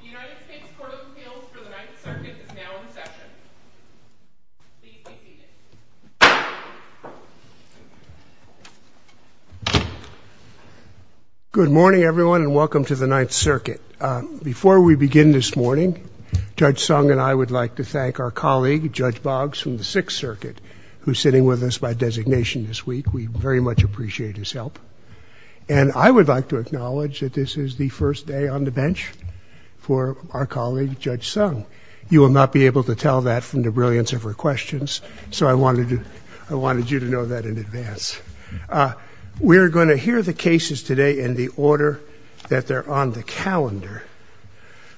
The United States Court of Appeals for the Ninth Circuit is now in session. Please be seated. Good morning, everyone, and welcome to the Ninth Circuit. Before we begin this morning, Judge Sung and I would like to thank our colleague, Judge Boggs, from the Sixth Circuit, who is sitting with us by designation this week. We very much appreciate his help. And I would like to acknowledge that this is the first day on the bench for our colleague, Judge Sung. You will not be able to tell that from the brilliance of her questions, so I wanted you to know that in advance. We are going to hear the cases today in the order that they're on the calendar.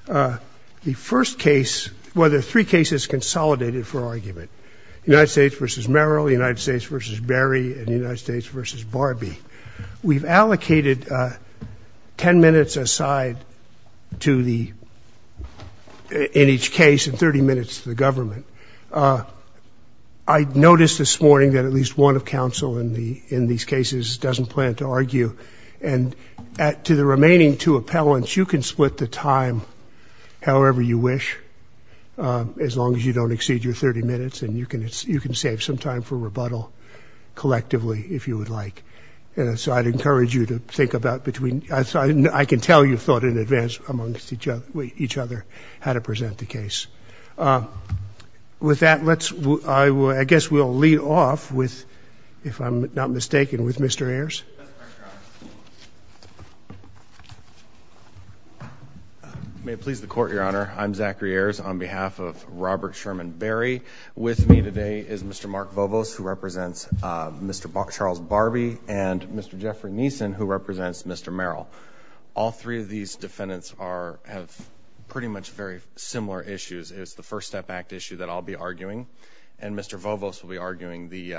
The first case, well, there are three cases consolidated for argument, United States v. Merrill, United States v. Berry, and United States v. Barbee. We've allocated 10 minutes aside to the, in each case, and 30 minutes to the government. I noticed this morning that at least one of counsel in these cases doesn't plan to argue. And to the remaining two appellants, you can split the time however you wish, as long as you don't exceed your 30 minutes and you can save some time for rebuttal collectively, if you would like. And so I'd encourage you to think about between, I can tell you thought in advance amongst each other how to present the case. With that, let's, I guess we'll lead off with, if I'm not mistaken, with Mr. Ayers. May it please the Court, Your Honor. I'm Zachary Ayers on behalf of Robert Sherman Berry. With me today is Mr. Mark Vovos, who represents Mr. Charles Barbee, and Mr. Jeffrey Neeson, who represents Mr. Merrill. All three of these defendants are, have pretty much very similar issues. It's the First Step Act issue that I'll be arguing, and Mr. Vovos will be arguing the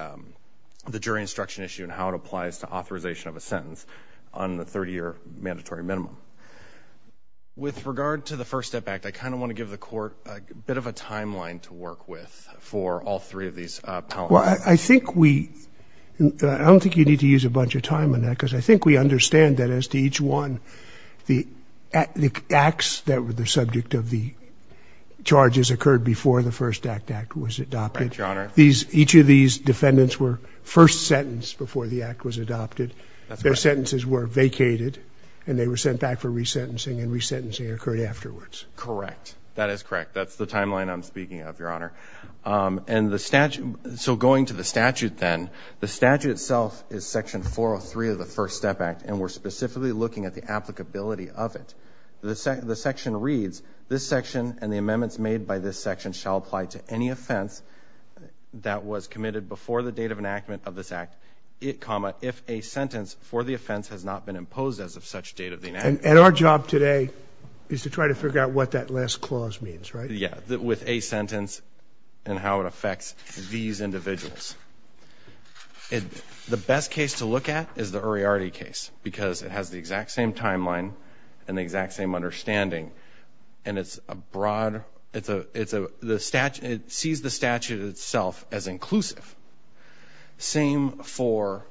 jury instruction issue and how it applies to authorization of a sentence on the 30-year mandatory minimum. With regard to the First Step Act, I kind of want to give the Court a bit of a timeline to work with for all three of these appellants. Well, I think we, I don't think you need to use a bunch of time on that, because I think we understand that as to each one, the acts that were the subject of the charges occurred before the First Act Act was adopted. Correct, Your Honor. Each of these defendants were first sentenced before the Act was adopted. That's correct. Their sentences were vacated, and they were sent back for resentencing, and resentencing occurred afterwards. Correct. That is correct. That's the timeline I'm speaking of, Your Honor. And the statute, so going to the statute then, the statute itself is Section 403 of the First Step Act, and we're specifically looking at the applicability of it. The section reads, this section and the amendments made by this section shall apply to any offense that was committed before the date of enactment of this act, comma, if a sentence for the offense has not been imposed as of such date of the enactment. And our job today is to try to figure out what that last clause means, right? Yeah, with a sentence and how it affects these individuals. The best case to look at is the Uriarte case because it has the exact same timeline and the exact same understanding, and it's a broad, it sees the statute itself as inclusive. Same for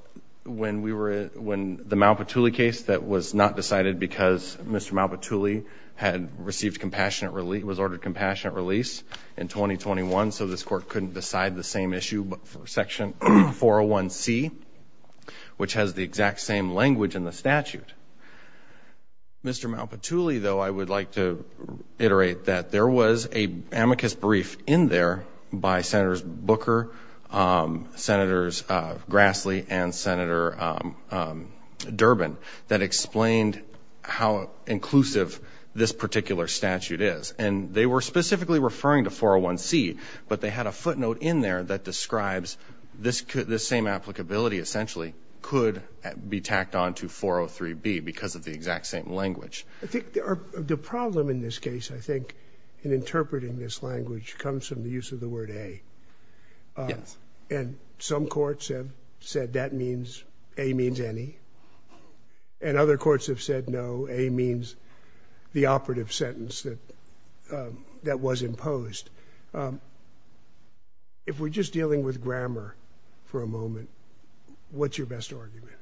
when the Malpatuli case that was not decided because Mr. Malpatuli had received compassionate release, was ordered compassionate release in 2021, so this court couldn't decide the same issue for Section 401C, which has the exact same language in the statute. Mr. Malpatuli, though, I would like to iterate that there was an amicus brief in there by Senators Booker, Grassley, and Durbin that explained how inclusive this particular statute is. And they were specifically referring to 401C, but they had a footnote in there that describes this same applicability essentially could be tacked on to 403B because of the exact same language. I think the problem in this case, I think, in interpreting this language comes from the use of the word A. Yes. And some courts have said that means, A means any. And other courts have said no, A means the operative sentence that was imposed. If we're just dealing with grammar for a moment, what's your best argument?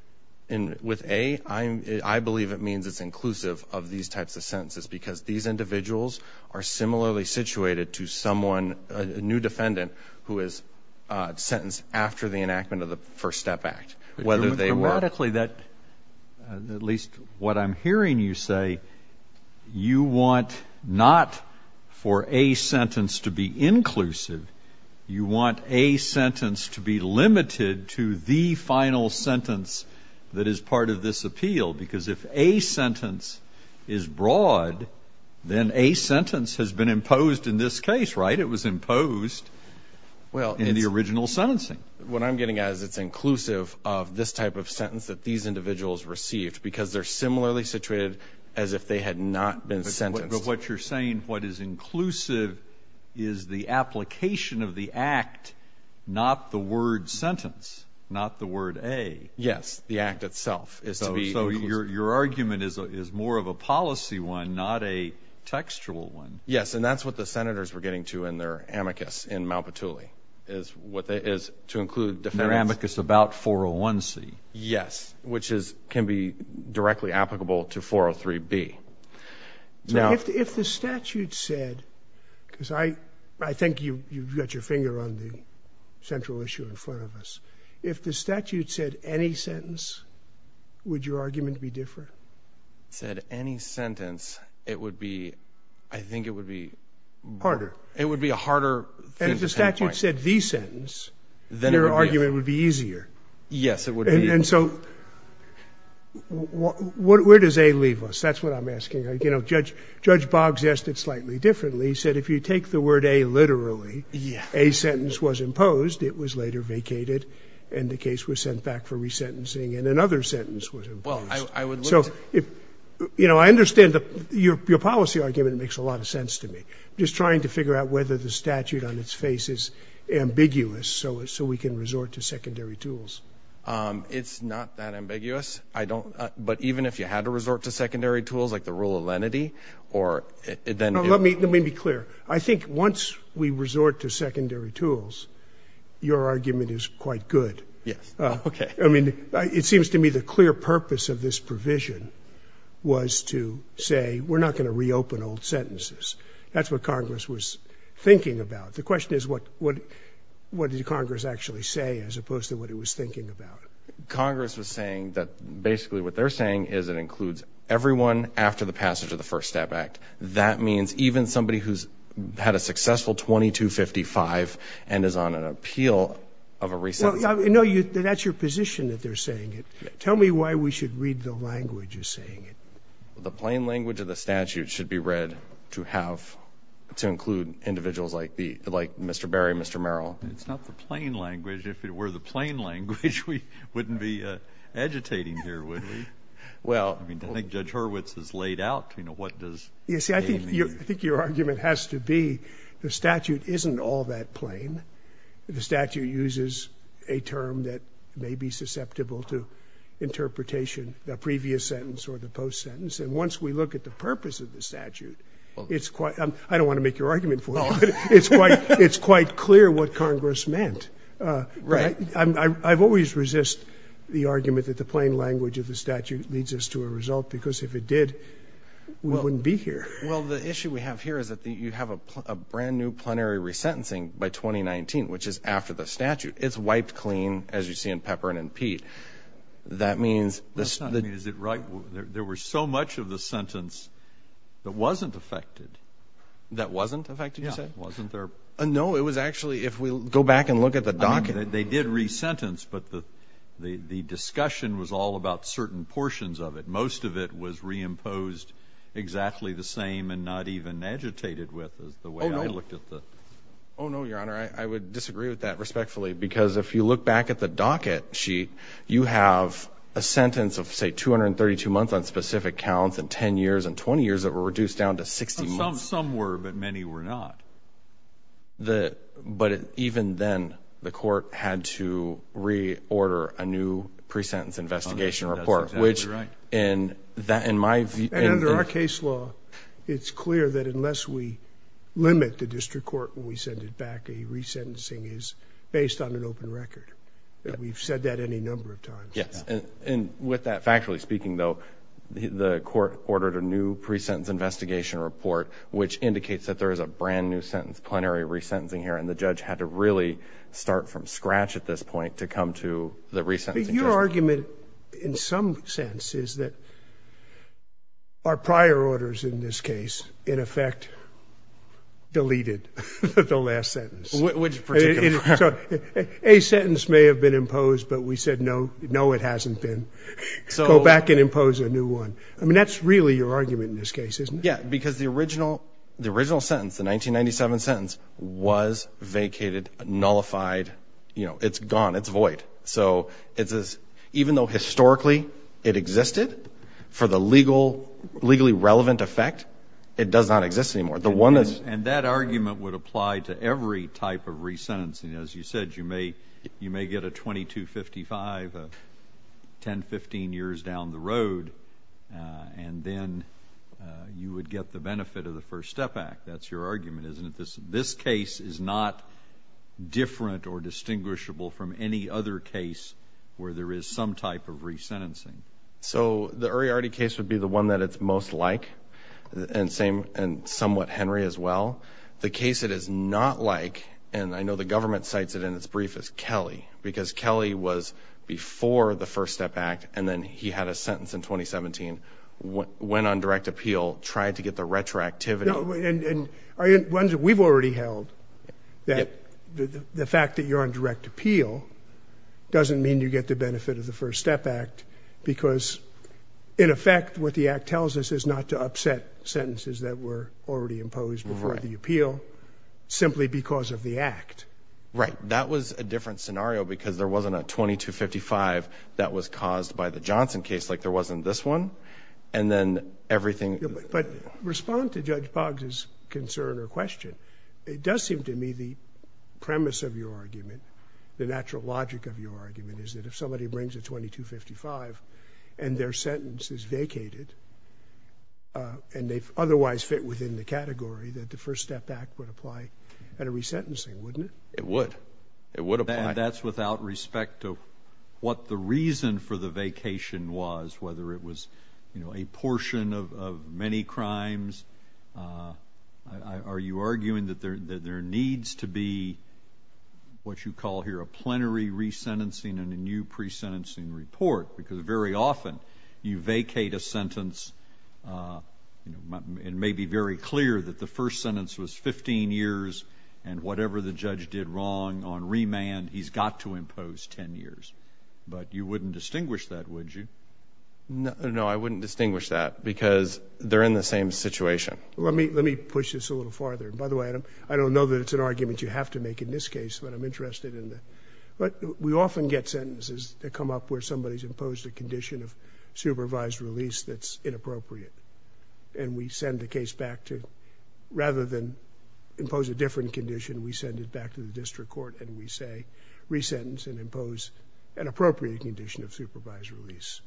With A, I believe it means it's inclusive of these types of sentences because these individuals are similarly situated to someone, a new defendant, who is sentenced after the enactment of the First Step Act, whether they were. Theoretically, at least what I'm hearing you say, you want not for A sentence to be inclusive. You want A sentence to be limited to the final sentence that is part of this appeal because if A sentence is broad, then A sentence has been imposed in this case, right? It was imposed in the original sentencing. What I'm getting at is it's inclusive of this type of sentence that these individuals received because they're similarly situated as if they had not been sentenced. But what you're saying, what is inclusive is the application of the act, not the word sentence, not the word A. Yes, the act itself is to be inclusive. So your argument is more of a policy one, not a textual one. Yes, and that's what the senators were getting to in their amicus in Mount Batuli, is to include defendants. Their amicus about 401C. Yes, which can be directly applicable to 403B. If the statute said, because I think you've got your finger on the central issue in front of us, if the statute said any sentence, would your argument be different? If it said any sentence, it would be, I think it would be... Harder. It would be a harder pinpoint. And if the statute said the sentence, your argument would be easier. Yes, it would be. And so where does A leave us? That's what I'm asking. You know, Judge Boggs asked it slightly differently. He said if you take the word A literally, A sentence was imposed, it was later vacated, and the case was sent back for resentencing, and another sentence was imposed. So, you know, I understand your policy argument makes a lot of sense to me. I'm just trying to figure out whether the statute on its face is ambiguous so we can resort to secondary tools. It's not that ambiguous. But even if you had to resort to secondary tools, like the rule of lenity, or then... Let me be clear. I think once we resort to secondary tools, your argument is quite good. Yes. Okay. I mean, it seems to me the clear purpose of this provision was to say we're not going to reopen old sentences. That's what Congress was thinking about. The question is what did Congress actually say as opposed to what it was thinking about. Congress was saying that basically what they're saying is it includes everyone after the passage of the First Step Act. That means even somebody who's had a successful 2255 and is on an appeal of a resentence. No, that's your position that they're saying it. Tell me why we should read the language as saying it. The plain language of the statute should be read to include individuals like Mr. Berry, Mr. Merrill. It's not the plain language. If it were the plain language, we wouldn't be agitating here, would we? Well, I mean, I think Judge Hurwitz has laid out, you know, what does pain mean. You see, I think your argument has to be the statute isn't all that plain. The statute uses a term that may be susceptible to interpretation, the previous sentence or the post-sentence. And once we look at the purpose of the statute, it's quite ‑‑ I don't want to make your argument for you, but it's quite clear what Congress meant. Right. I've always resisted the argument that the plain language of the statute leads us to a result because if it did, we wouldn't be here. Well, the issue we have here is that you have a brand-new plenary resentencing by 2019, which is after the statute. It's wiped clean, as you see in Pepperin and Pete. That means the ‑‑ Is it right? There was so much of the sentence that wasn't affected. That wasn't affected, you said? Yeah, wasn't there ‑‑ No, it was actually, if we go back and look at the docket. They did resentence, but the discussion was all about certain portions of it. Most of it was reimposed exactly the same and not even agitated with the way I looked at the ‑‑ Oh, no. Oh, no, Your Honor, I would disagree with that respectfully because if you look back at the docket sheet, you have a sentence of, say, 232 months on specific counts and 10 years and 20 years that were reduced down to 60 months. Some were, but many were not. But even then, the court had to reorder a new presentence investigation report, which in my view ‑‑ And under our case law, it's clear that unless we limit the district court when we send it back, a resentencing is based on an open record. We've said that any number of times. Yes, and with that factually speaking, though, the court ordered a new presentence investigation report, which indicates that there is a brand new sentence, plenary resentencing here, and the judge had to really start from scratch at this point to come to the resentencing judgment. But your argument in some sense is that our prior orders in this case, in effect, deleted the last sentence. Which particular ‑‑ A sentence may have been imposed, but we said no, no, it hasn't been. Go back and impose a new one. I mean, that's really your argument in this case, isn't it? Yes, because the original sentence, the 1997 sentence, was vacated, nullified, you know, it's gone, it's void. So even though historically it existed, for the legally relevant effect, it does not exist anymore. And that argument would apply to every type of resentencing. As you said, you may get a 2255, 10, 15 years down the road, and then you would get the benefit of the First Step Act. That's your argument, isn't it? This case is not different or distinguishable from any other case where there is some type of resentencing. So the Uriarty case would be the one that it's most like, and somewhat Henry as well. The case it is not like, and I know the government cites it in its brief as Kelly, because Kelly was before the First Step Act, and then he had a sentence in 2017, went on direct appeal, tried to get the retroactivity. And we've already held that the fact that you're on direct appeal doesn't mean you get the benefit of the First Step Act, because, in effect, what the Act tells us is not to upset sentences that were already imposed before the appeal, simply because of the Act. Right. That was a different scenario, because there wasn't a 2255 that was caused by the Johnson case, like there wasn't this one. And then everything... But respond to Judge Boggs' concern or question. It does seem to me the premise of your argument, the natural logic of your argument, is that if somebody brings a 2255 and their sentence is vacated, and they otherwise fit within the category that the First Step Act would apply at a resentencing, wouldn't it? It would. It would apply. That's without respect to what the reason for the vacation was, whether it was a portion of many crimes. Are you arguing that there needs to be what you call here a plenary resentencing and a new pre-sentencing report? Because very often you vacate a sentence. It may be very clear that the first sentence was 15 years, and whatever the judge did wrong on remand, he's got to impose 10 years. But you wouldn't distinguish that, would you? No, I wouldn't distinguish that, because they're in the same situation. Let me push this a little farther. By the way, I don't know that it's an argument you have to make in this case, but I'm interested in the... But we often get sentences that come up where somebody's imposed a condition of supervised release that's inappropriate, and we send the case back to... Rather than impose a different condition, we send it back to the district court, and we say resentence and impose an appropriate condition of supervised release.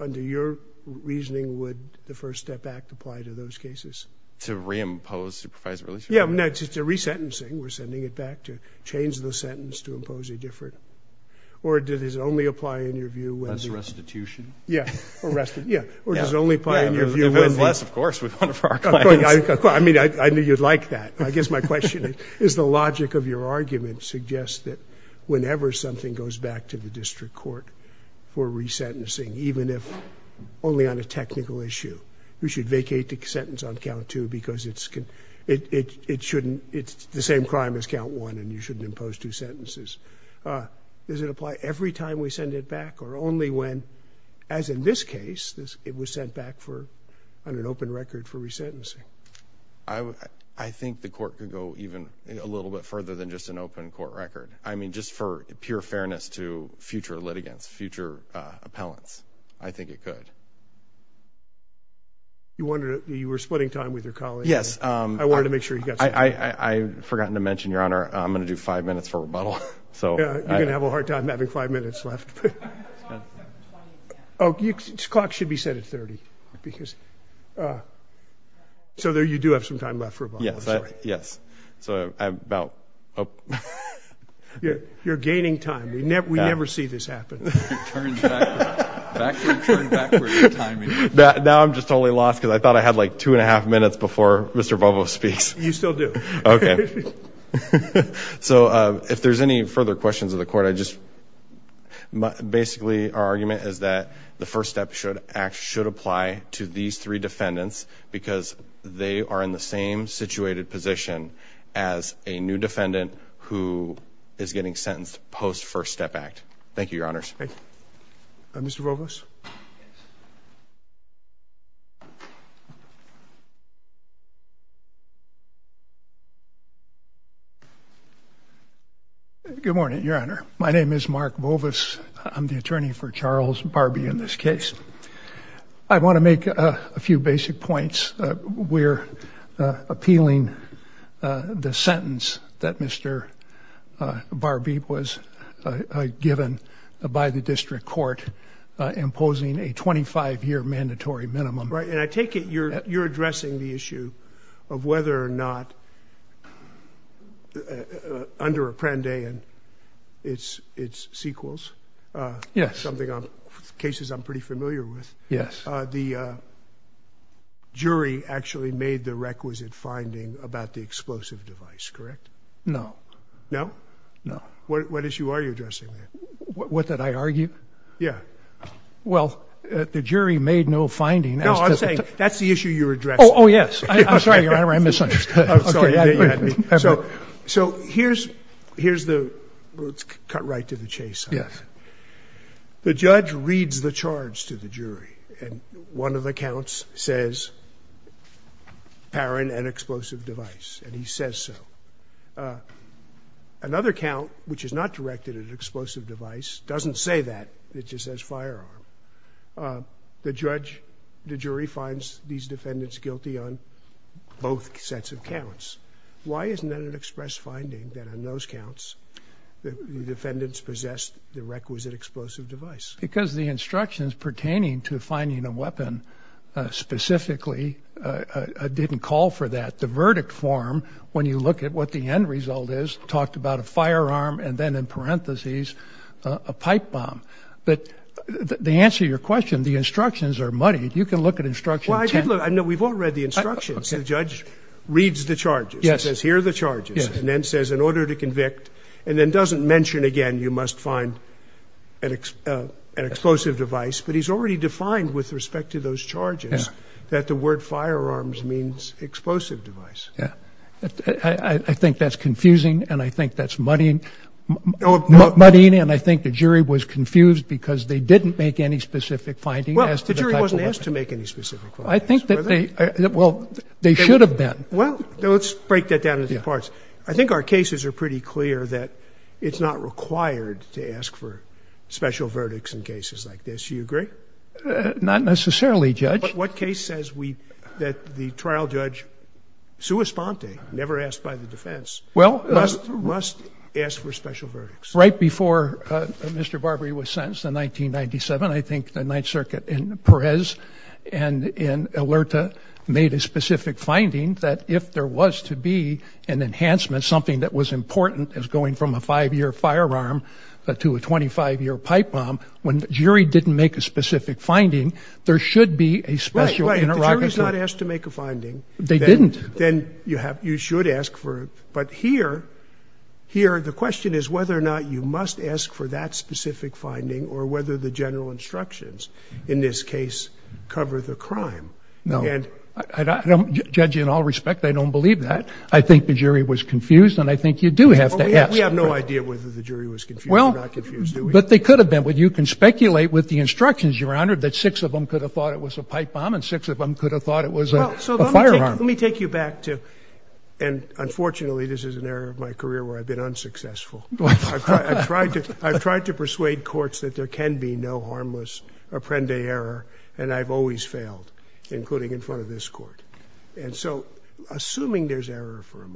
Under your reasoning, would the First Step Act apply to those cases? To reimpose supervised release? Yeah, no, it's a resentencing. We're sending it back to change the sentence to impose a different... Or does it only apply in your view whether... Less restitution? Yeah, or restitution. Yeah. Or does it only apply in your view whether... If it's less, of course, with one of our clients. I mean, I knew you'd like that. I guess my question is the logic of your argument suggests that whenever something goes back to the district court for resentencing, even if only on a technical issue, you should vacate the sentence on count two because it's the same crime as count one and you shouldn't impose two sentences. Does it apply every time we send it back or only when, as in this case, it was sent back on an open record for resentencing? I think the court could go even a little bit further than just an open court record. I mean, just for pure fairness to future litigants, future appellants, I think it could. You were splitting time with your colleague. Yes. I wanted to make sure you got some time. I've forgotten to mention, Your Honor, I'm going to do five minutes for rebuttal. You're going to have a hard time having five minutes left. Oh, the clock should be set at 30. So you do have some time left for rebuttal. Yes. So I'm about up. You're gaining time. We never see this happen. Turn backwards. Turn backwards in timing. Now I'm just totally lost because I thought I had like two and a half minutes before Mr. Bobo speaks. You still do. Okay. So if there's any further questions of the court, basically our argument is that the First Step Act should apply to these three defendants because they are in the same situated position as a new defendant who is getting sentenced post First Step Act. Thank you, Your Honors. Thank you. Mr. Robles? Yes. Good morning, Your Honor. My name is Mark Bovis. I'm the attorney for Charles Barbee in this case. I want to make a few basic points. We're appealing the sentence that Mr. Barbee was given by the district court imposing a 25-year mandatory minimum. And I take it you're addressing the issue of whether or not under Apprendi and its sequels, something on cases I'm pretty familiar with, the jury actually made the requisite finding about the explosive device, correct? No. No? No. What issue are you addressing there? What did I argue? Yeah. Well, the jury made no finding. No, I'm saying that's the issue you're addressing. Oh, yes. I'm sorry, Your Honor. I misunderstood. I'm sorry. So here's the – let's cut right to the chase. Yes. The judge reads the charge to the jury, and one of the counts says, Parin, an explosive device, and he says so. Another count, which is not directed at an explosive device, doesn't say that. It just says firearm. The judge, the jury, finds these defendants guilty on both sets of counts. Why isn't that an express finding that on those counts the defendants possessed the requisite explosive device? Because the instructions pertaining to finding a weapon specifically didn't call for that. The verdict form, when you look at what the end result is, talked about a firearm and then, in parentheses, a pipe bomb. But the answer to your question, the instructions are muddied. You can look at instruction 10. Well, I did look. No, we've all read the instructions. The judge reads the charges. Yes. He says, here are the charges, and then says, in order to convict, and then doesn't mention again you must find an explosive device, but he's already defined with respect to those charges that the word firearms means explosive device. Yes. I think that's confusing, and I think that's muddying, and I think the jury was confused because they didn't make any specific finding as to the type of weapon. Well, the jury wasn't asked to make any specific findings. I think that they, well, they should have been. Well, let's break that down into parts. I think our cases are pretty clear that it's not required to ask for special verdicts in cases like this. Do you agree? Not necessarily, Judge. But what case says that the trial judge, sua sponte, never asked by the defense, must ask for special verdicts? Right before Mr. Barbary was sentenced in 1997, I think the Ninth Circuit in Perez and in Alerta made a specific finding that if there was to be an enhancement, something that was important as going from a five-year firearm to a 25-year pipe bomb, when the jury didn't make a specific finding, there should be a special interrogation. Right, right. The jury's not asked to make a finding. They didn't. Then you should ask for it. But here, the question is whether or not you must ask for that specific finding or whether the general instructions in this case cover the crime. No. Judge, in all respect, I don't believe that. I think the jury was confused, and I think you do have to ask. We have no idea whether the jury was confused or not confused, do we? But they could have been. Well, you can speculate with the instructions, Your Honor, that six of them could have thought it was a pipe bomb and six of them could have thought it was a firearm. Well, so let me take you back to ‑‑ and, unfortunately, this is an area of my career where I've been unsuccessful. I've tried to persuade courts that there can be no harmless apprende error, and I've always failed, including in front of this court. And so, assuming there's error for a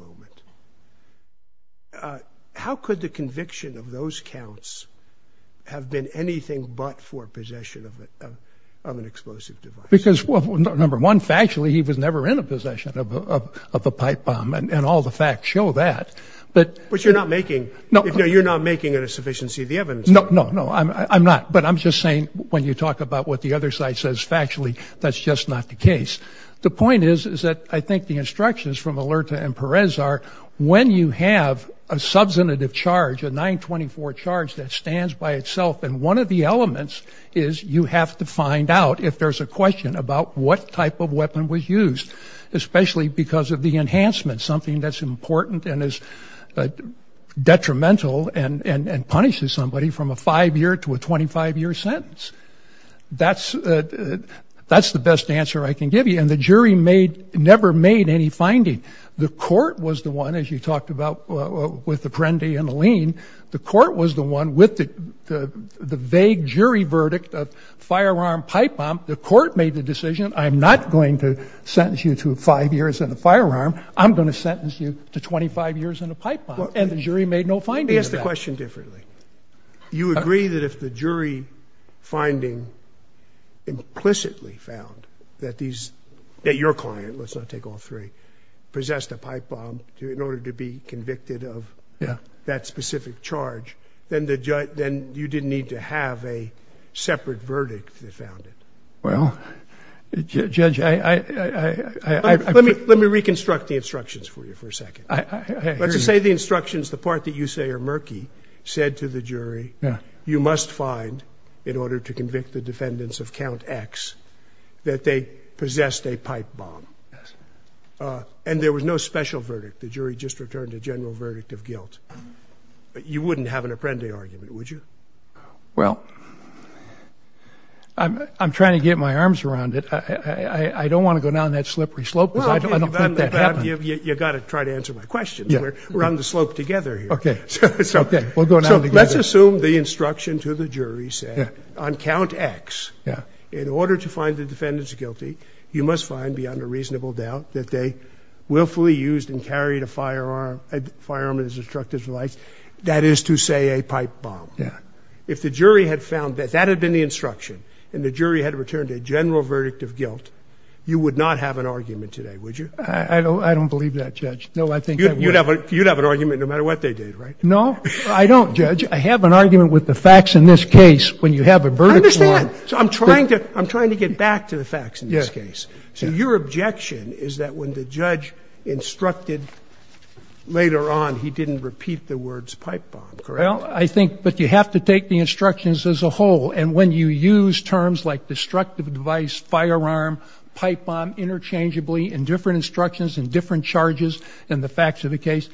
moment, how could the conviction of those counts have been anything but for possession of an explosive device? Because, number one, factually, he was never in a possession of a pipe bomb, and all the facts show that. But you're not making it a sufficiency of the evidence. No, no, no, I'm not. But I'm just saying when you talk about what the other side says factually, that's just not the case. The point is that I think the instructions from Alerta and Perez are when you have a substantive charge, a 924 charge that stands by itself, and one of the elements is you have to find out if there's a question about what type of weapon was used, especially because of the enhancement, something that's important and is detrimental and punishes somebody from a five‑year to a 25‑year sentence. That's the best answer I can give you. And the jury never made any finding. The court was the one, as you talked about with the Prendi and the Lean, the court was the one with the vague jury verdict of firearm, pipe bomb. The court made the decision, I'm not going to sentence you to five years in a firearm. I'm going to sentence you to 25 years in a pipe bomb. And the jury made no finding of that. Let me ask the question differently. You agree that if the jury finding implicitly found that these ‑‑ that your client, let's not take all three, possessed a pipe bomb in order to be convicted of that specific charge, then you didn't need to have a separate verdict that found it. Well, Judge, I ‑‑ Let me reconstruct the instructions for you for a second. Let's say the instructions, the part that you say are murky, said to the jury, you must find, in order to convict the defendants of count X, that they possessed a pipe bomb. And there was no special verdict. The jury just returned a general verdict of guilt. But you wouldn't have an Apprendi argument, would you? Well, I'm trying to get my arms around it. I don't want to go down that slippery slope because I don't think that happened. You've got to try to answer my question. We're on the slope together here. Okay. We'll go down together. Let's assume the instruction to the jury said, on count X, in order to find the defendants guilty, you must find beyond a reasonable doubt that they willfully used and carried a firearm as instructed, that is to say a pipe bomb. If the jury had found that that had been the instruction and the jury had returned a general verdict of guilt, you would not have an argument today, would you? I don't believe that, Judge. No, I think that would be it. You'd have an argument no matter what they did, right? No, I don't, Judge. I have an argument with the facts in this case. When you have a verdict line. I understand. I'm trying to get back to the facts in this case. So your objection is that when the judge instructed later on, he didn't repeat the words pipe bomb, correct? Well, I think you have to take the instructions as a whole. And when you use terms like destructive device, firearm, pipe bomb interchangeably in different instructions and different charges and the facts of the case,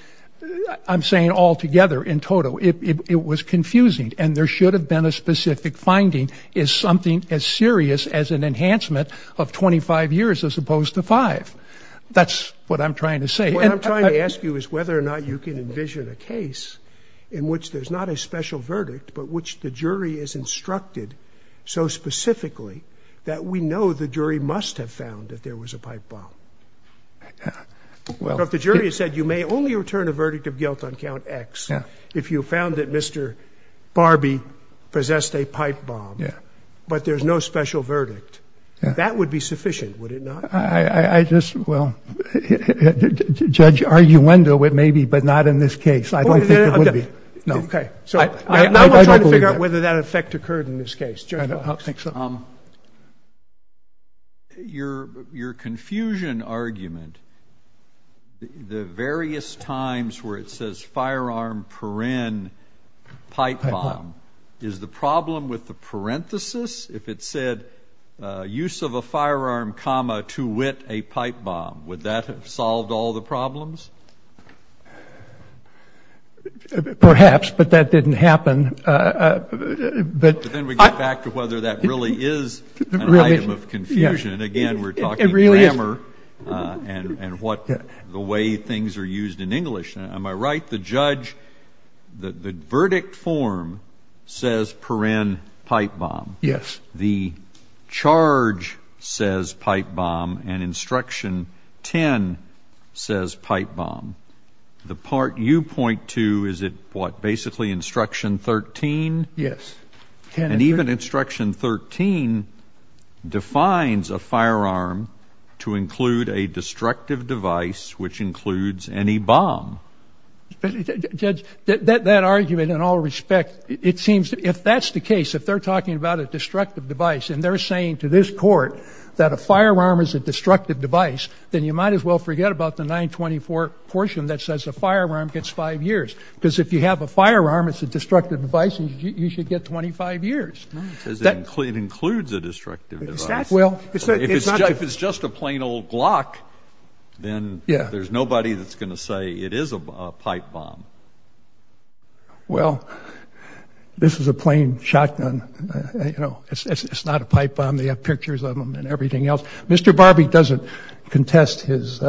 I'm saying altogether in total. It was confusing. And there should have been a specific finding is something as serious as an enhancement of 25 years as opposed to five. That's what I'm trying to say. What I'm trying to ask you is whether or not you can envision a case in which there's not a special verdict, but which the jury is instructed so specifically that we know the jury must have found that there was a pipe bomb. If the jury said you may only return a verdict of guilt on count X if you found that Mr. Barbie possessed a pipe bomb, but there's no special verdict, that would be sufficient, would it not? Well, Judge, arguendo it may be, but not in this case. I don't think it would be. Okay. I'm trying to figure out whether that effect occurred in this case. I don't think so. Your confusion argument, the various times where it says firearm, paren, pipe bomb, is the problem with the parenthesis? If it said use of a firearm, comma, to wit a pipe bomb, would that have solved all the problems? Perhaps, but that didn't happen. But then we get back to whether that really is an item of confusion. Again, we're talking grammar and what the way things are used in English. Am I right? The judge, the verdict form says paren, pipe bomb. Yes. The charge says pipe bomb and instruction 10 says pipe bomb. The part you point to, is it what, basically instruction 13? Yes. And even instruction 13 defines a firearm to include a destructive device, which includes any bomb. Judge, that argument in all respect, it seems if that's the case, if they're talking about a destructive device and they're saying to this court that a firearm is a destructive device, then you might as well forget about the 924 portion that says a firearm gets five years. Because if you have a firearm, it's a destructive device, you should get 25 years. It includes a destructive device. If it's just a plain old Glock, then there's nobody that's going to say it is a pipe bomb. Well, this is a plain shotgun. It's not a pipe bomb. They have pictures of them and everything else. Mr. Barbie doesn't contest his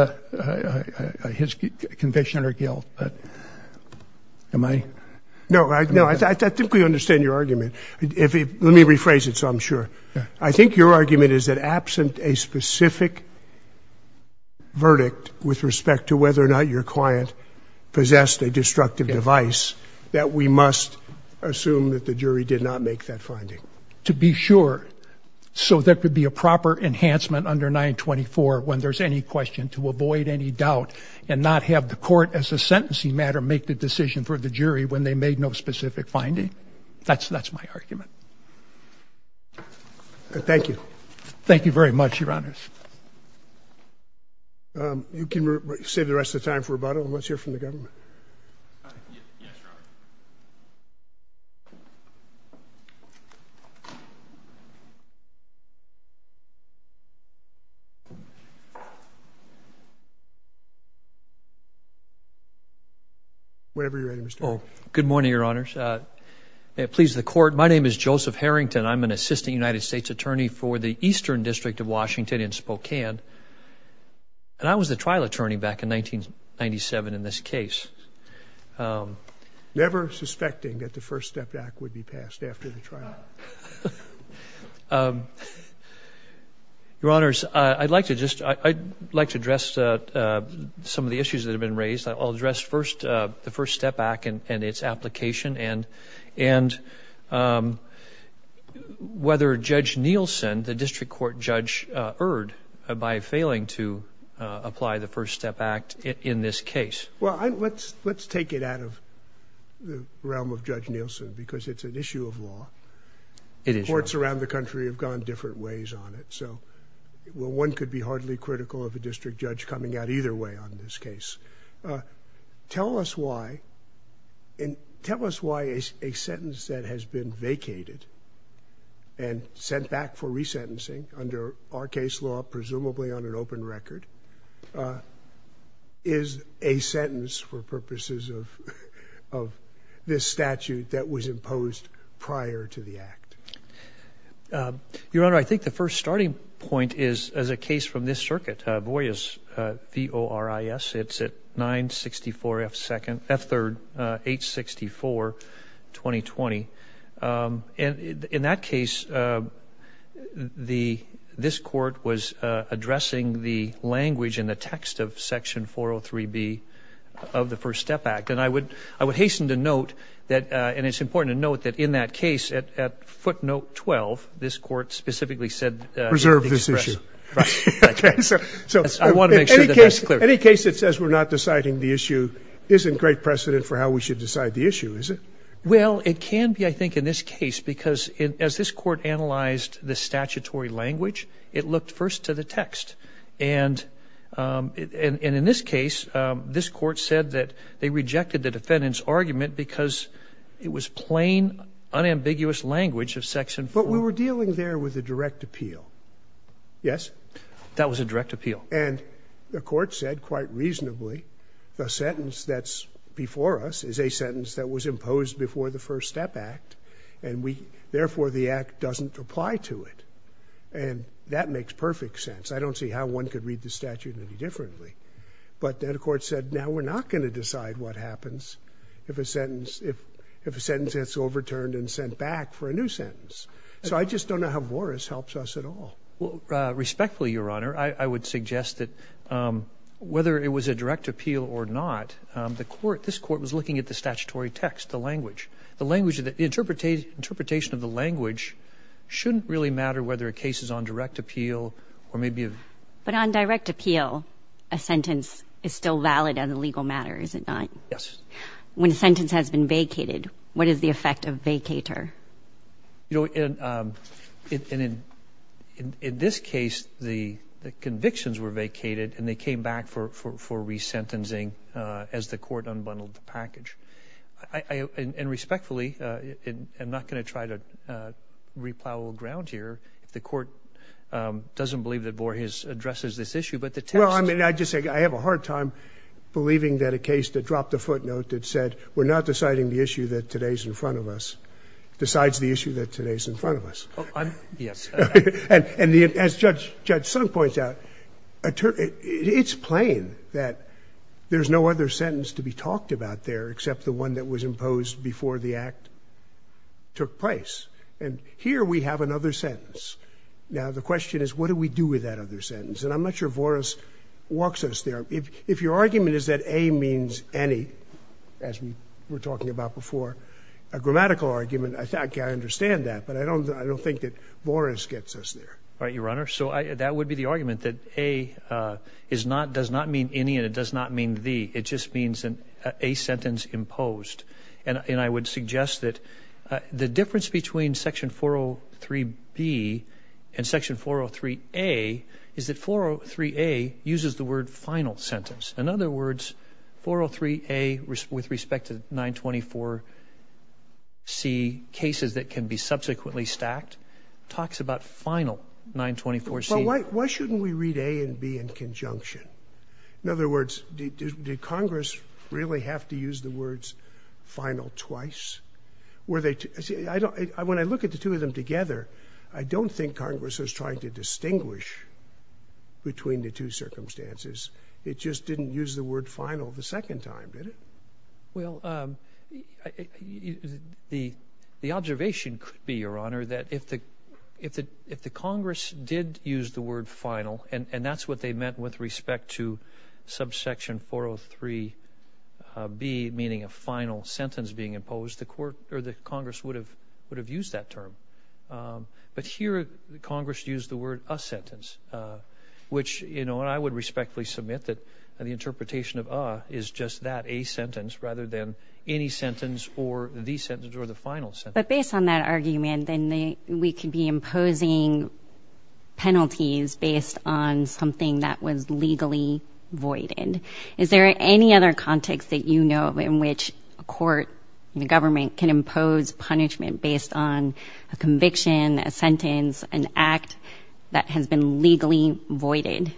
conviction or guilt, but am I? No, I think we understand your argument. Let me rephrase it so I'm sure. I think your argument is that absent a specific verdict with respect to whether or not your client possessed a destructive device, that we must assume that the jury did not make that finding. To be sure, so there could be a proper enhancement under 924 when there's any question, to avoid any doubt and not have the court, as a sentencing matter, make the decision for the jury when they made no specific finding. That's my argument. Thank you. Thank you very much, Your Honors. You can save the rest of the time for rebuttal. Let's hear from the government. Good morning, Your Honors. May it please the Court, my name is Joseph Harrington. I'm an assistant United States attorney for the Eastern District of Washington in Spokane. And I was the trial attorney back in 1997 in this case. Never suspecting that the First Step Act would be passed after the trial. Your Honors, I'd like to address some of the issues that have been raised. I'll address first the First Step Act and its application and whether Judge Nielsen, the district court judge, erred by failing to apply the First Step Act in this case. Well, let's take it out of the realm of Judge Nielsen because it's an issue of law. It is, Your Honor. Courts around the country have gone different ways on it. So one could be hardly critical of a district judge coming out either way on this case. Tell us why a sentence that has been vacated and sent back for resentencing under our case law, presumably on an open record, is a sentence for purposes of this statute that was imposed prior to the act. Your Honor, I think the first starting point is as a case from this circuit, Boyas v. ORIS, it's at 964 F 3rd, H64, 2020. In that case, this court was addressing the language and the text of Section 403B of the First Step Act. And I would hasten to note that, and it's important to note that in that case, at footnote 12, this court specifically said- Preserve this issue. I want to make sure that that's clear. Any case that says we're not deciding the issue isn't great precedent for how we should decide the issue, is it? Well, it can be, I think, in this case because as this court analyzed the statutory language, it looked first to the text. And in this case, this court said that they rejected the defendant's argument because it was plain, unambiguous language of Section 403. But we were dealing there with a direct appeal. Yes? That was a direct appeal. And the court said, quite reasonably, the sentence that's before us is a sentence that was imposed before the First Step Act, and therefore the act doesn't apply to it. And that makes perfect sense. I don't see how one could read the statute any differently. But then the court said, now we're not going to decide what happens if a sentence gets overturned and sent back for a new sentence. So I just don't know how Boris helps us at all. Respectfully, Your Honor, I would suggest that whether it was a direct appeal or not, this court was looking at the statutory text, the language. The interpretation of the language shouldn't really matter whether a case is on direct appeal or maybe a... But on direct appeal, a sentence is still valid as a legal matter, is it not? Yes. When a sentence has been vacated, what is the effect of vacator? You know, and in this case, the convictions were vacated, and they came back for resentencing as the court unbundled the package. And respectfully, I'm not going to try to replow a little ground here. The court doesn't believe that Borges addresses this issue, but the text... Well, I mean, I'd just say I have a hard time believing that a case that dropped a footnote that said, we're not deciding the issue that today's in front of us, decides the issue that today's in front of us. Oh, I'm... Yes. And as Judge Sunk points out, it's plain that there's no other sentence to be talked about there except the one that was imposed before the act took place. And here we have another sentence. Now, the question is, what do we do with that other sentence? And I'm not sure Boris walks us there. If your argument is that A means any, as we were talking about before, a grammatical argument, I understand that, but I don't think that Boris gets us there. All right, Your Honor. So that would be the argument, that A does not mean any and it does not mean the. It just means a sentence imposed. And I would suggest that the difference between Section 403B and Section 403A is that 403A uses the word final sentence. In other words, 403A, with respect to 924C cases that can be subsequently stacked, talks about final 924C. Well, why shouldn't we read A and B in conjunction? In other words, did Congress really have to use the words final twice? When I look at the two of them together, I don't think Congress was trying to distinguish between the two circumstances. It just didn't use the word final the second time, did it? Well, the observation could be, Your Honor, that if the Congress did use the word final, and that's what they meant with respect to subsection 403B, meaning a final sentence being imposed, the Congress would have used that term. But here Congress used the word a sentence, which I would respectfully submit that the interpretation of A is just that, a sentence, rather than any sentence or the sentence or the final sentence. But based on that argument, then we could be imposing penalties based on something that was legally voided. Is there any other context that you know of in which a court, the government, can impose punishment based on a conviction, a sentence, an act that has been legally voided?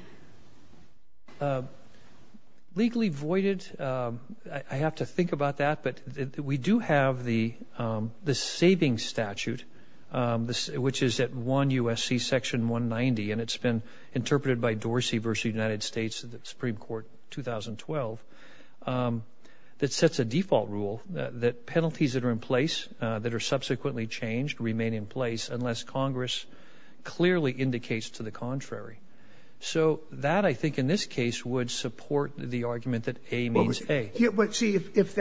Legally voided, I have to think about that, but we do have the savings statute, which is at 1 U.S.C. section 190, and it's been interpreted by Dorsey v. United States, the Supreme Court, 2012, that sets a default rule that penalties that are in place, that are subsequently changed, remain in place unless Congress clearly indicates to the contrary. So that, I think, in this case would support the argument that A means A. But see, if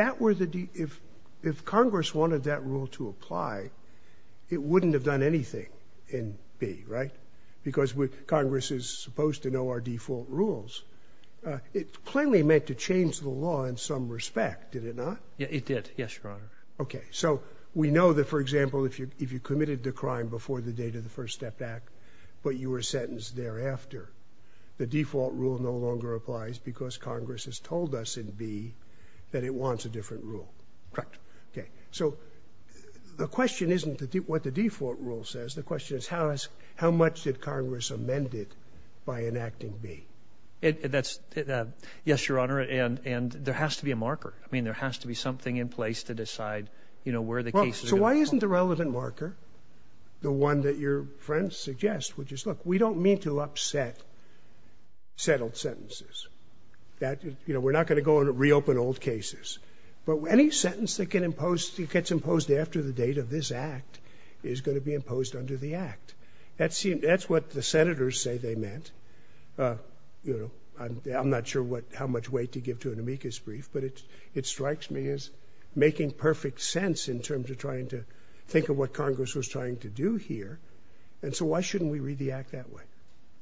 Congress wanted that rule to apply, it wouldn't have done anything in B, right? Because Congress is supposed to know our default rules. It plainly meant to change the law in some respect, did it not? It did, yes, Your Honor. Okay, so we know that, for example, if you committed the crime before the date of the First Step Act, but you were sentenced thereafter, the default rule no longer applies because Congress has told us in B that it wants a different rule. Correct. Okay, so the question isn't what the default rule says. The question is how much did Congress amend it by enacting B? Yes, Your Honor, and there has to be a marker. I mean, there has to be something in place to decide where the cases are going to fall. So why isn't the relevant marker the one that your friend suggests, which is, look, we don't mean to upset settled sentences. We're not going to go and reopen old cases. But any sentence that gets imposed after the date of this act is going to be imposed under the act. That's what the senators say they meant. I'm not sure how much weight to give to an amicus brief, but it strikes me as making perfect sense in terms of trying to think of what Congress was trying to do here. And so why shouldn't we read the act that way?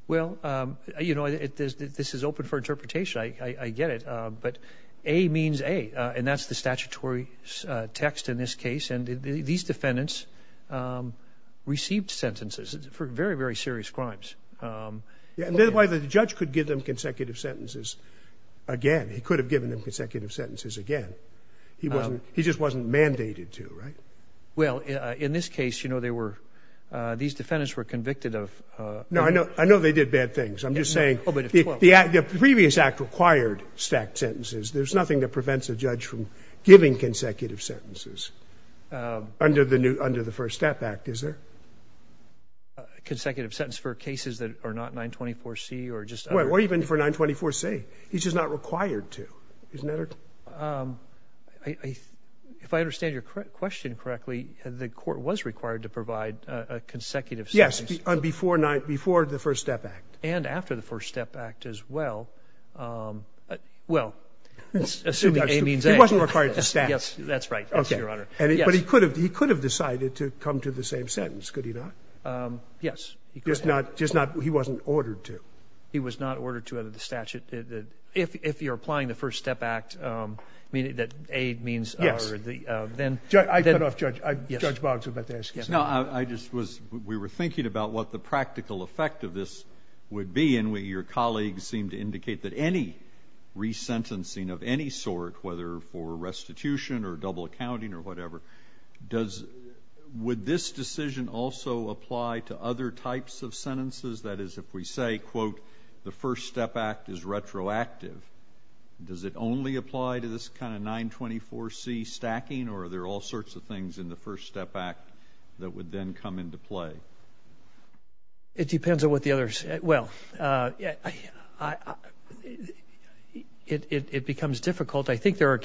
Well, you know, this is open for interpretation. I get it. But A means A. And that's the statutory text in this case. And these defendants received sentences for very, very serious crimes. And that's why the judge could give them consecutive sentences again. He could have given them consecutive sentences again. He just wasn't mandated to, right? Well, in this case, you know, these defendants were convicted of. No, I know they did bad things. I'm just saying the previous act required stacked sentences. There's nothing that prevents a judge from giving consecutive sentences under the First Step Act, is there? Consecutive sentence for cases that are not 924C or just under. Or even for 924C. He's just not required to. Isn't that right? If I understand your question correctly, the court was required to provide consecutive sentences. Yes, before the First Step Act. And after the First Step Act as well. Well, assuming A means A. He wasn't required to stack. That's right, Your Honor. But he could have decided to come to the same sentence, could he not? Yes. He wasn't ordered to. He was not ordered to under the statute. If you're applying the First Step Act, meaning that A means then. I cut off Judge Boggs. We were thinking about what the practical effect of this would be. And your colleagues seem to indicate that any resentencing of any sort, whether for restitution or double accounting or whatever, would this decision also apply to other types of sentences? That is, if we say, quote, the First Step Act is retroactive, does it only apply to this kind of 924C stacking? Or are there all sorts of things in the First Step Act that would then come into play? It depends on what the others. Well, it becomes difficult. I think there's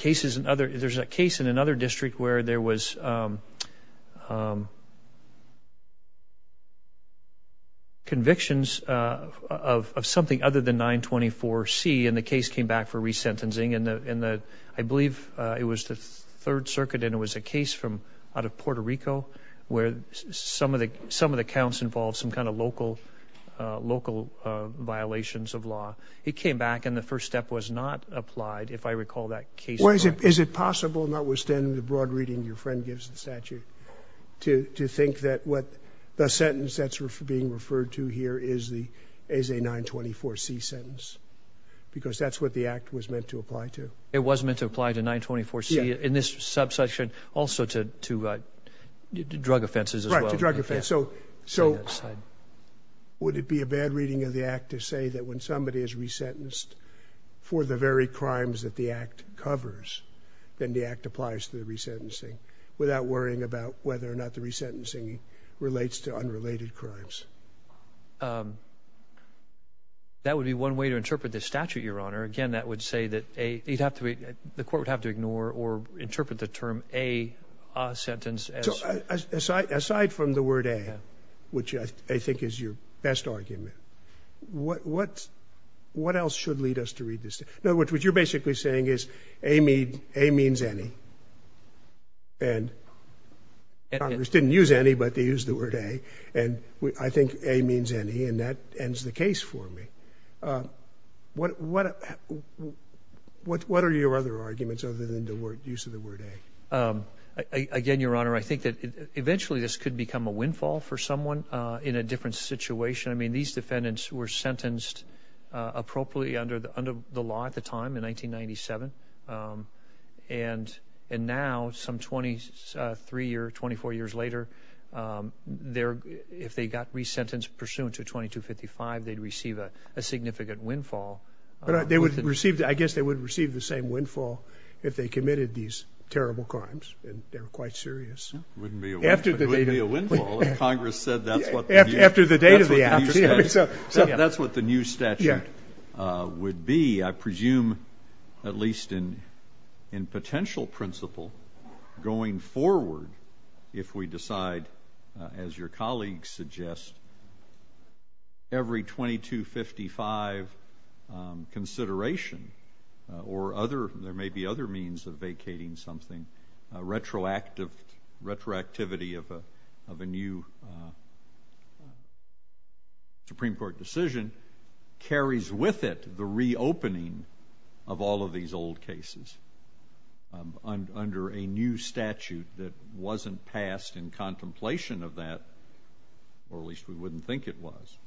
a case in another district where there was convictions of something other than 924C, and the case came back for resentencing. I believe it was the Third Circuit, and it was a case out of Puerto Rico, where some of the counts involved some kind of local violations of law. It came back, and the First Step was not applied, if I recall that case. Is it possible, notwithstanding the broad reading your friend gives the statute, to think that the sentence that's being referred to here is a 924C sentence? Because that's what the Act was meant to apply to. It was meant to apply to 924C in this subsection, also to drug offenses as well. Right, to drug offenses. So would it be a bad reading of the Act to say that when somebody is resentenced for the very crimes that the Act covers, then the Act applies to the resentencing, without worrying about whether or not the resentencing relates to unrelated crimes? That would be one way to interpret the statute, Your Honor. Again, that would say that the court would have to ignore or interpret the term a sentence. Aside from the word a, which I think is your best argument, what else should lead us to read this? In other words, what you're basically saying is a means any, and Congress didn't use any, but they used the word a, and I think a means any, and that ends the case for me. What are your other arguments other than the use of the word a? Again, Your Honor, I think that eventually this could become a windfall for someone in a different situation. I mean, these defendants were sentenced appropriately under the law at the time in 1997, and now, some 23 or 24 years later, if they got resentenced pursuant to 2255, they'd receive a significant windfall. I guess they would receive the same windfall if they committed these terrible crimes, and they were quite serious. It wouldn't be a windfall if Congress said that's what the new statute would be. I presume, at least in potential principle, going forward, if we decide, as your colleagues suggest, every 2255 consideration or there may be other means of vacating something, retroactivity of a new Supreme Court decision carries with it the reopening of all of these old cases under a new statute that wasn't passed in contemplation of that, or at least we wouldn't think it was.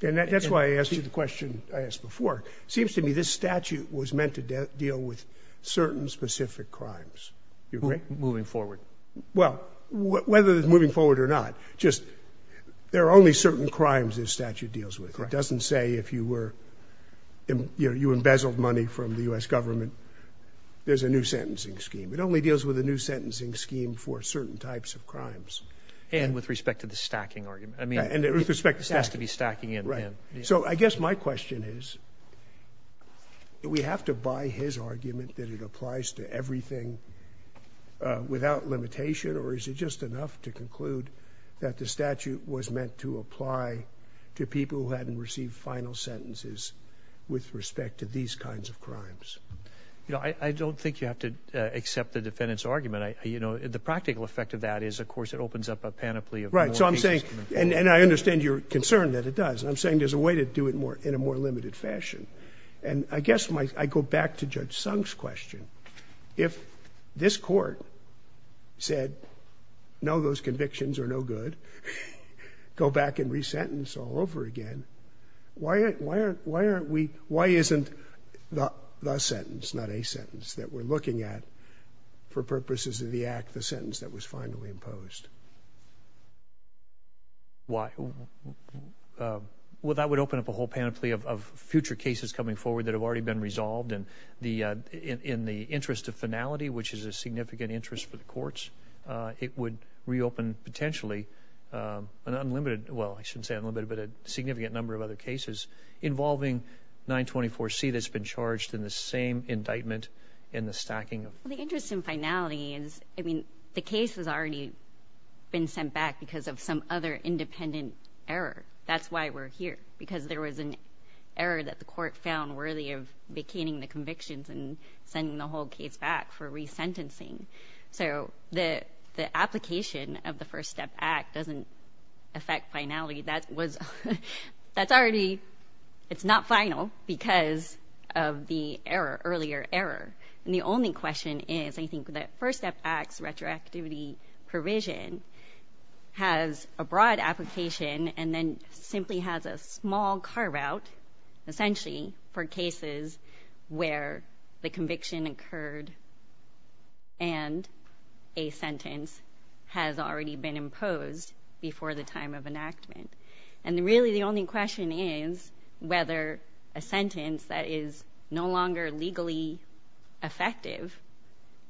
And that's why I asked you the question I asked before. It seems to me this statute was meant to deal with certain specific crimes. You agree? Moving forward. Well, whether it's moving forward or not, just there are only certain crimes this statute deals with. It doesn't say if you were, you know, you embezzled money from the U.S. government. There's a new sentencing scheme. It only deals with a new sentencing scheme for certain types of crimes. And with respect to the stacking argument. I mean, it has to be stacking in. So I guess my question is, do we have to buy his argument that it applies to everything without limitation, or is it just enough to conclude that the statute was meant to apply to people who hadn't received final sentences with respect to these kinds of crimes? You know, I don't think you have to accept the defendant's argument. You know, the practical effect of that is, of course, it opens up a panoply of more cases. And I understand your concern that it does. And I'm saying there's a way to do it in a more limited fashion. And I guess I go back to Judge Sung's question. If this court said, no, those convictions are no good, go back and resentence all over again, why aren't we, why isn't the sentence, not a sentence that we're looking at, for purposes of the act, the sentence that was finally imposed? Well, that would open up a whole panoply of future cases coming forward that have already been resolved. And in the interest of finality, which is a significant interest for the courts, it would reopen potentially an unlimited, well, I shouldn't say unlimited, but a significant number of other cases involving 924C that's been charged in the same indictment in the stacking. Well, the interest in finality is, I mean, the case has already been sent back because of some other independent error. That's why we're here, because there was an error that the court found worthy of vacating the convictions and sending the whole case back for resentencing. So the application of the First Step Act doesn't affect finality. That was, that's already, it's not final because of the error, earlier error. And the only question is, I think, that First Step Act's retroactivity provision has a broad application and then simply has a small carve-out, essentially, for cases where the conviction occurred and a sentence has already been imposed before the time of enactment. And really, the only question is whether a sentence that is no longer legally effective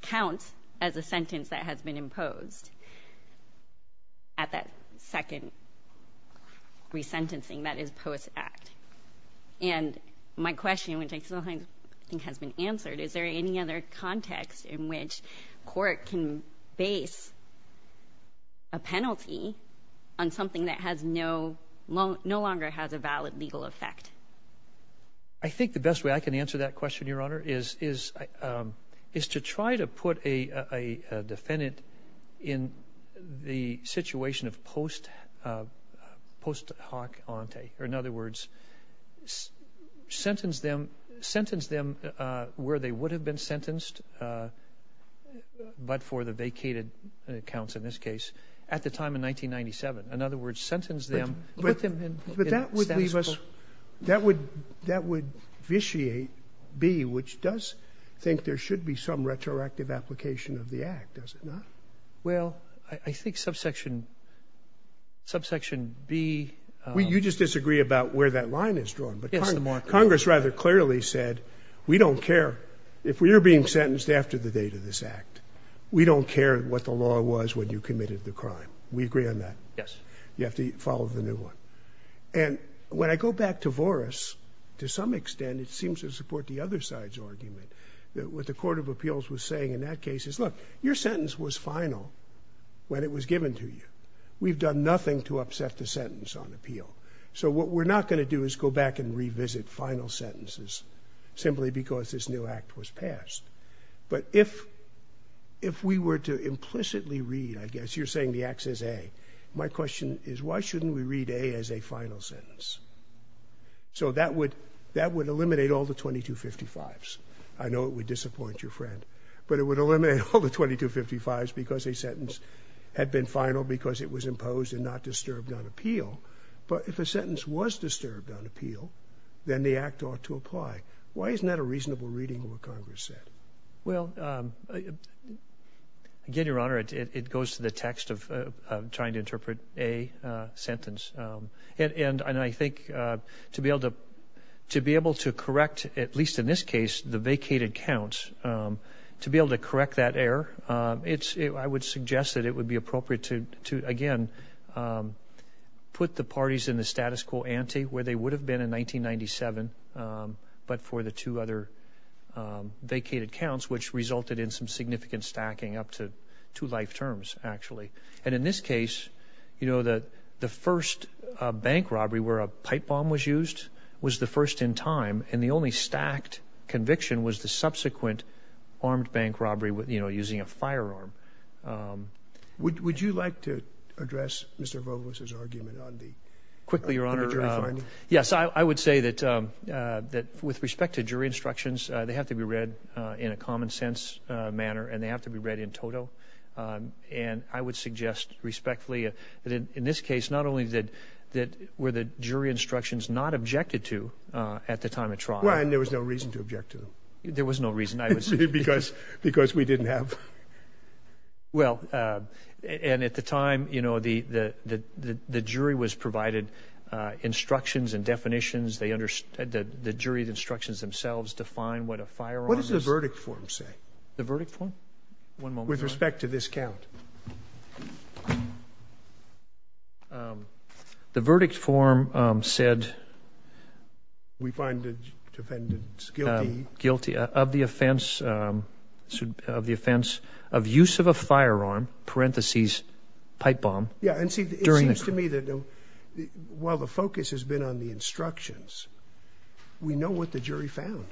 counts as a sentence that has been imposed at that second resentencing that is post-act. And my question, which I still think has been answered, is there any other context in which court can base a penalty on something that has no, no longer has a valid legal effect? I think the best way I can answer that question, Your Honor, is to try to put a defendant in the situation of post-hoc ante, or in other words, sentence them where they would have been sentenced, but for the vacated counts in this case, at the time of 1997. In other words, sentence them, put them in status quo. But that would leave us, that would vitiate B, which does think there should be some retroactive application of the act, does it not? Well, I think subsection B. You just disagree about where that line is drawn, but Congress rather clearly said, we don't care if we are being sentenced after the date of this act. We don't care what the law was when you committed the crime. We agree on that. Yes. You have to follow the new one. And when I go back to Voris, to some extent it seems to support the other side's argument, that what the Court of Appeals was saying in that case is, look, your sentence was final when it was given to you. We've done nothing to upset the sentence on appeal. So what we're not going to do is go back and revisit final sentences simply because this new act was passed. But if we were to implicitly read, I guess you're saying the act says A, my question is, why shouldn't we read A as a final sentence? So that would eliminate all the 2255s. I know it would disappoint your friend. But it would eliminate all the 2255s because a sentence had been final because it was imposed and not disturbed on appeal. But if a sentence was disturbed on appeal, then the act ought to apply. Why isn't that a reasonable reading of what Congress said? Well, again, Your Honor, it goes to the text of trying to interpret A sentence. And I think to be able to correct, at least in this case, the vacated counts, to be able to correct that error, I would suggest that it would be appropriate to, again, put the parties in the status quo ante where they would have been in 1997, but for the two other vacated counts, which resulted in some significant stacking up to two life terms, actually. And in this case, you know, the first bank robbery where a pipe bomb was used was the first in time, and the only stacked conviction was the subsequent armed bank robbery, you know, using a firearm. Would you like to address Mr. Volos' argument on the jury finding? Yes, I would say that with respect to jury instructions, they have to be read in a common sense manner, and they have to be read in toto. And I would suggest respectfully that in this case, not only were the jury instructions not objected to at the time of trial. Well, and there was no reason to object to them. There was no reason. Because we didn't have. Well, and at the time, you know, the jury was provided instructions and definitions. The jury instructions themselves define what a firearm is. What does the verdict form say? The verdict form? One moment. With respect to this count. The verdict form said. We find the defendants guilty. Guilty of the offense of use of a firearm, parenthesis, pipe bomb. Yeah, and see, it seems to me that while the focus has been on the instructions, we know what the jury found.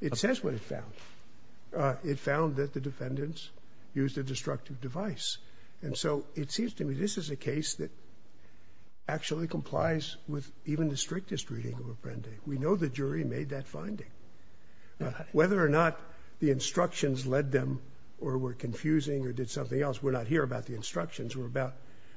It says what it found. It found that the defendants used a destructive device. And so it seems to me this is a case that actually complies with even the strictest reading of Apprendi. We know the jury made that finding. Whether or not the instructions led them or were confusing or did something else, we're not here about the instructions. We're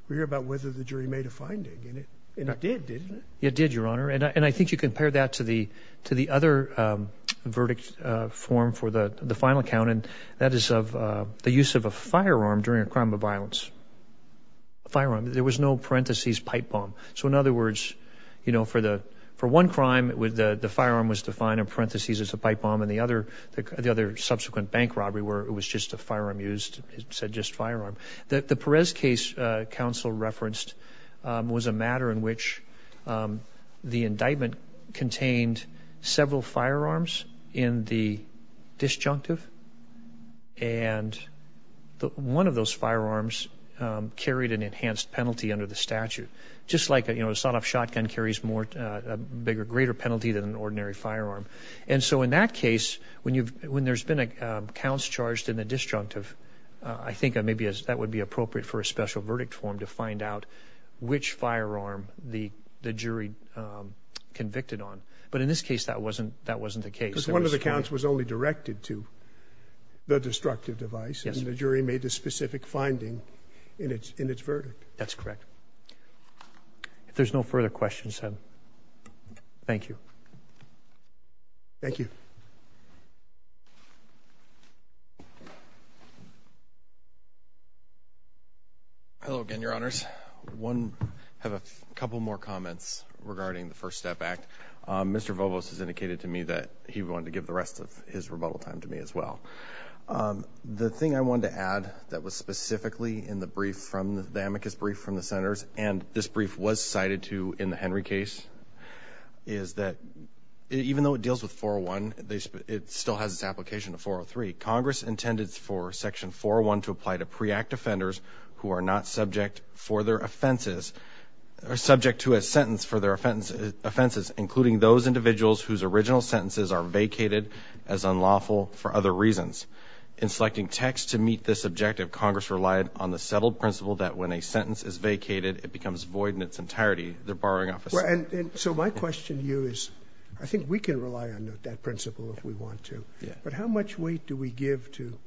here about whether the jury made a finding. And it did, didn't it? It did, Your Honor. And I think you compare that to the other verdict form for the final count, and that is of the use of a firearm during a crime of violence. A firearm. There was no parenthesis pipe bomb. So, in other words, you know, for one crime, the firearm was defined in parenthesis as a pipe bomb, and the other subsequent bank robbery where it was just a firearm used, it said just firearm. The Perez case counsel referenced was a matter in which the indictment contained several firearms in the disjunctive, and one of those firearms carried an enhanced penalty under the statute. Just like, you know, a sawed-off shotgun carries a bigger, greater penalty than an ordinary firearm. And so in that case, when there's been counts charged in the disjunctive, I think maybe that would be appropriate for a special verdict form to find out which firearm the jury convicted on. But in this case, that wasn't the case. Because one of the counts was only directed to the destructive device, and the jury made a specific finding in its verdict. That's correct. If there's no further questions, thank you. Thank you. Hello again, Your Honors. I have a couple more comments regarding the First Step Act. Mr. Vovos has indicated to me that he wanted to give the rest of his rebuttal time to me as well. The thing I wanted to add that was specifically in the brief, the amicus brief from the Senators, and this brief was cited to in the Henry case, is that even though it deals with 401, it still has its application to 403. Congress intended for Section 401 to apply to pre-act offenders who are not subject to a sentence for their offenses, including those individuals whose original sentences are vacated as unlawful for other reasons. In selecting texts to meet this objective, Congress relied on the settled principle that when a sentence is vacated, it becomes void in its entirety, their borrowing office. So my question to you is, I think we can rely on that principle if we want to, but how much weight do we give to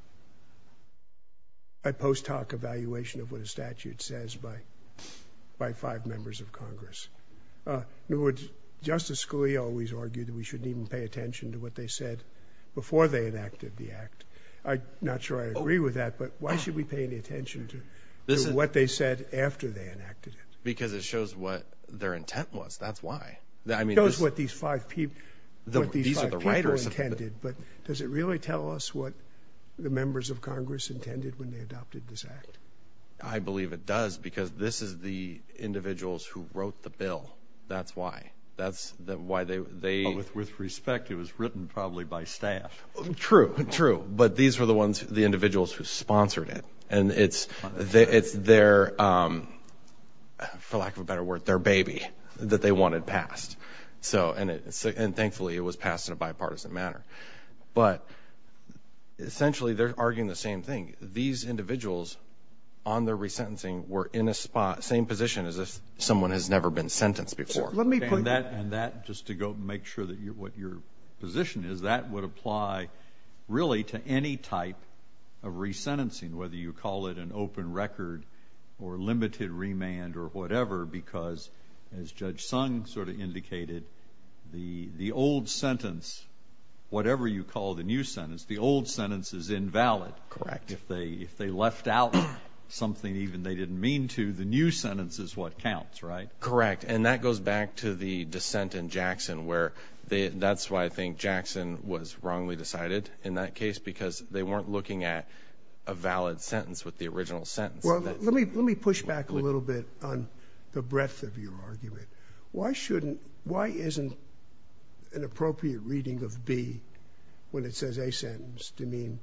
a post hoc evaluation of what a statute says by five members of Congress? In other words, Justice Scalia always argued that we shouldn't even pay attention to what they said before they enacted the act. I'm not sure I agree with that, but why should we pay any attention to what they said after they enacted it? Because it shows what their intent was. That's why. It shows what these five people intended, but does it really tell us what the members of Congress intended when they adopted this act? I believe it does because this is the individuals who wrote the bill. That's why. With respect, it was written probably by staff. True, true. But these were the individuals who sponsored it, and it's their, for lack of a better word, their baby that they wanted passed. And thankfully it was passed in a bipartisan manner. But essentially they're arguing the same thing. These individuals, on their resentencing, were in the same position as if someone has never been sentenced before. And that, just to make sure what your position is, that would apply really to any type of resentencing, whether you call it an open record or limited remand or whatever, because as Judge Sung sort of indicated, the old sentence, whatever you call the new sentence, the old sentence is invalid. Correct. If they left out something even they didn't mean to, the new sentence is what counts, right? Correct. And that goes back to the dissent in Jackson, where that's why I think Jackson was wrongly decided in that case, because they weren't looking at a valid sentence with the original sentence. Well, let me push back a little bit on the breadth of your argument. Why shouldn't, why isn't an appropriate reading of B, when it says a sentence, to mean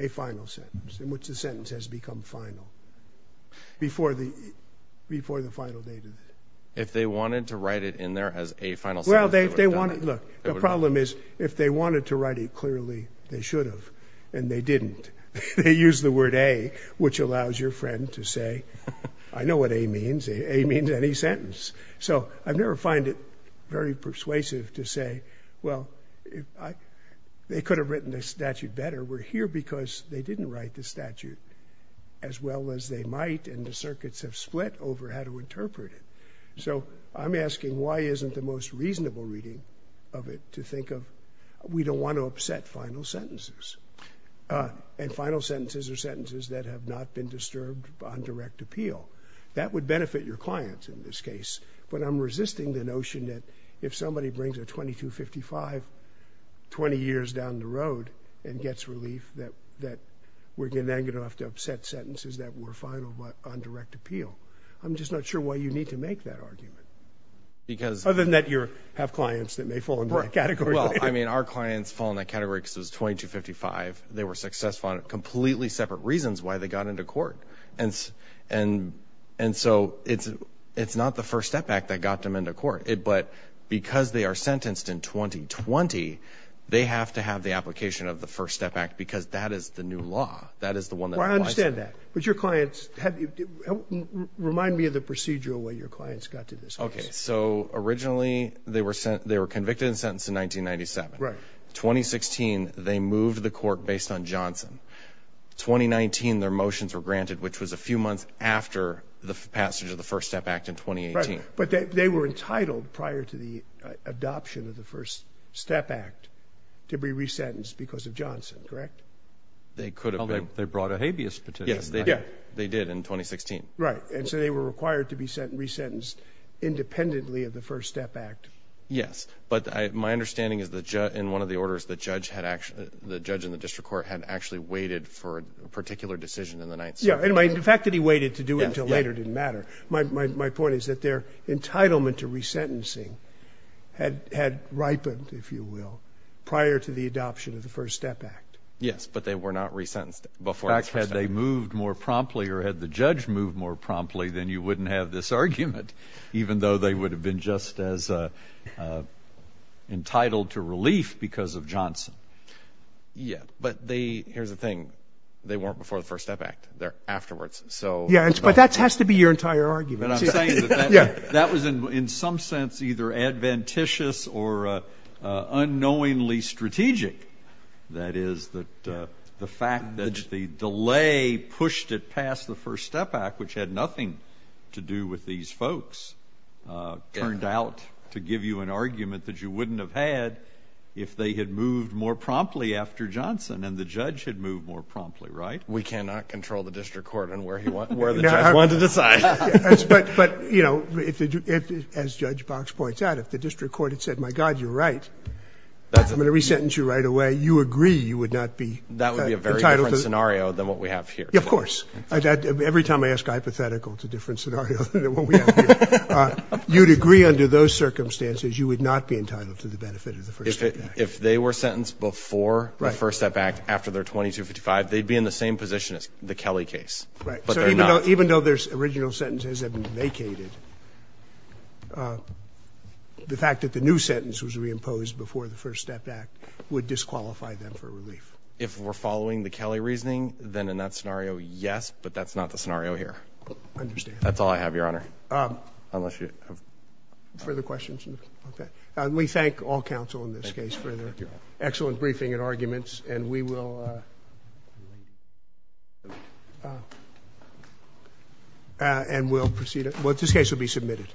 a final sentence, in which the sentence has become final before the final date of it? If they wanted to write it in there as a final sentence, they would have done it. Well, look, the problem is if they wanted to write it clearly, they should have, and they didn't. They used the word A, which allows your friend to say, I know what A means. A means any sentence. So I never find it very persuasive to say, well, they could have written the statute better. We're here because they didn't write the statute as well as they might, and the circuits have split over how to interpret it. So I'm asking, why isn't the most reasonable reading of it to think of, we don't want to upset final sentences. And final sentences are sentences that have not been disturbed on direct appeal. That would benefit your clients in this case. But I'm resisting the notion that if somebody brings a 2255 20 years down the road and gets relief, that we're then going to have to upset sentences that were final but on direct appeal. I'm just not sure why you need to make that argument. Other than that you have clients that may fall in that category. Well, I mean, our clients fall in that category because it was 2255. They were successful on completely separate reasons why they got into court. And so it's not the First Step Act that got them into court. But because they are sentenced in 2020, they have to have the application of the First Step Act because that is the new law. That is the one that applies to them. Well, I understand that. But your clients, remind me of the procedural way your clients got to this case. Okay. So originally they were convicted and sentenced in 1997. Right. 2016 they moved the court based on Johnson. 2019 their motions were granted, which was a few months after the passage of the First Step Act in 2018. Right. But they were entitled prior to the adoption of the First Step Act to be resentenced because of Johnson, correct? They could have been. Well, they brought a habeas petition. Yes, they did in 2016. Right. And so they were required to be resentenced independently of the First Step Act. Yes. But my understanding is that in one of the orders, the judge and the district court had actually waited for a particular decision in the night. Yeah. And the fact that he waited to do it until later didn't matter. My point is that their entitlement to resentencing had ripened, if you will, prior to the adoption of the First Step Act. Yes, but they were not resentenced before. In fact, had they moved more promptly or had the judge moved more promptly, then you wouldn't have this argument, even though they would have been just as entitled to relief because of Johnson. Yeah. But here's the thing. They weren't before the First Step Act. They're afterwards. Yeah, but that has to be your entire argument. I'm saying that that was in some sense either advantageous or unknowingly strategic. That is, the fact that the delay pushed it past the First Step Act, which had nothing to do with these folks, turned out to give you an argument that you wouldn't have had if they had moved more promptly after Johnson and the judge had moved more promptly. Right? We cannot control the district court and where the judge wanted to decide. But, you know, as Judge Box points out, if the district court had said, my God, you're right, I'm going to resentence you right away, you agree you would not be entitled to this. That would be a very different scenario than what we have here. Of course. Every time I ask hypothetical, it's a different scenario than what we have here. You'd agree under those circumstances you would not be entitled to the benefit of the First Step Act. If they were sentenced before the First Step Act, after their 2255, they'd be in the same position as the Kelly case, but they're not. Right. So even though their original sentences have been vacated, the fact that the new sentence was reimposed before the First Step Act would disqualify them for relief. If we're following the Kelly reasoning, then in that scenario, yes, but that's not the scenario here. I understand. That's all I have, Your Honor, unless you have further questions. We thank all counsel in this case for their excellent briefing and arguments, and we will proceed. This case will be submitted.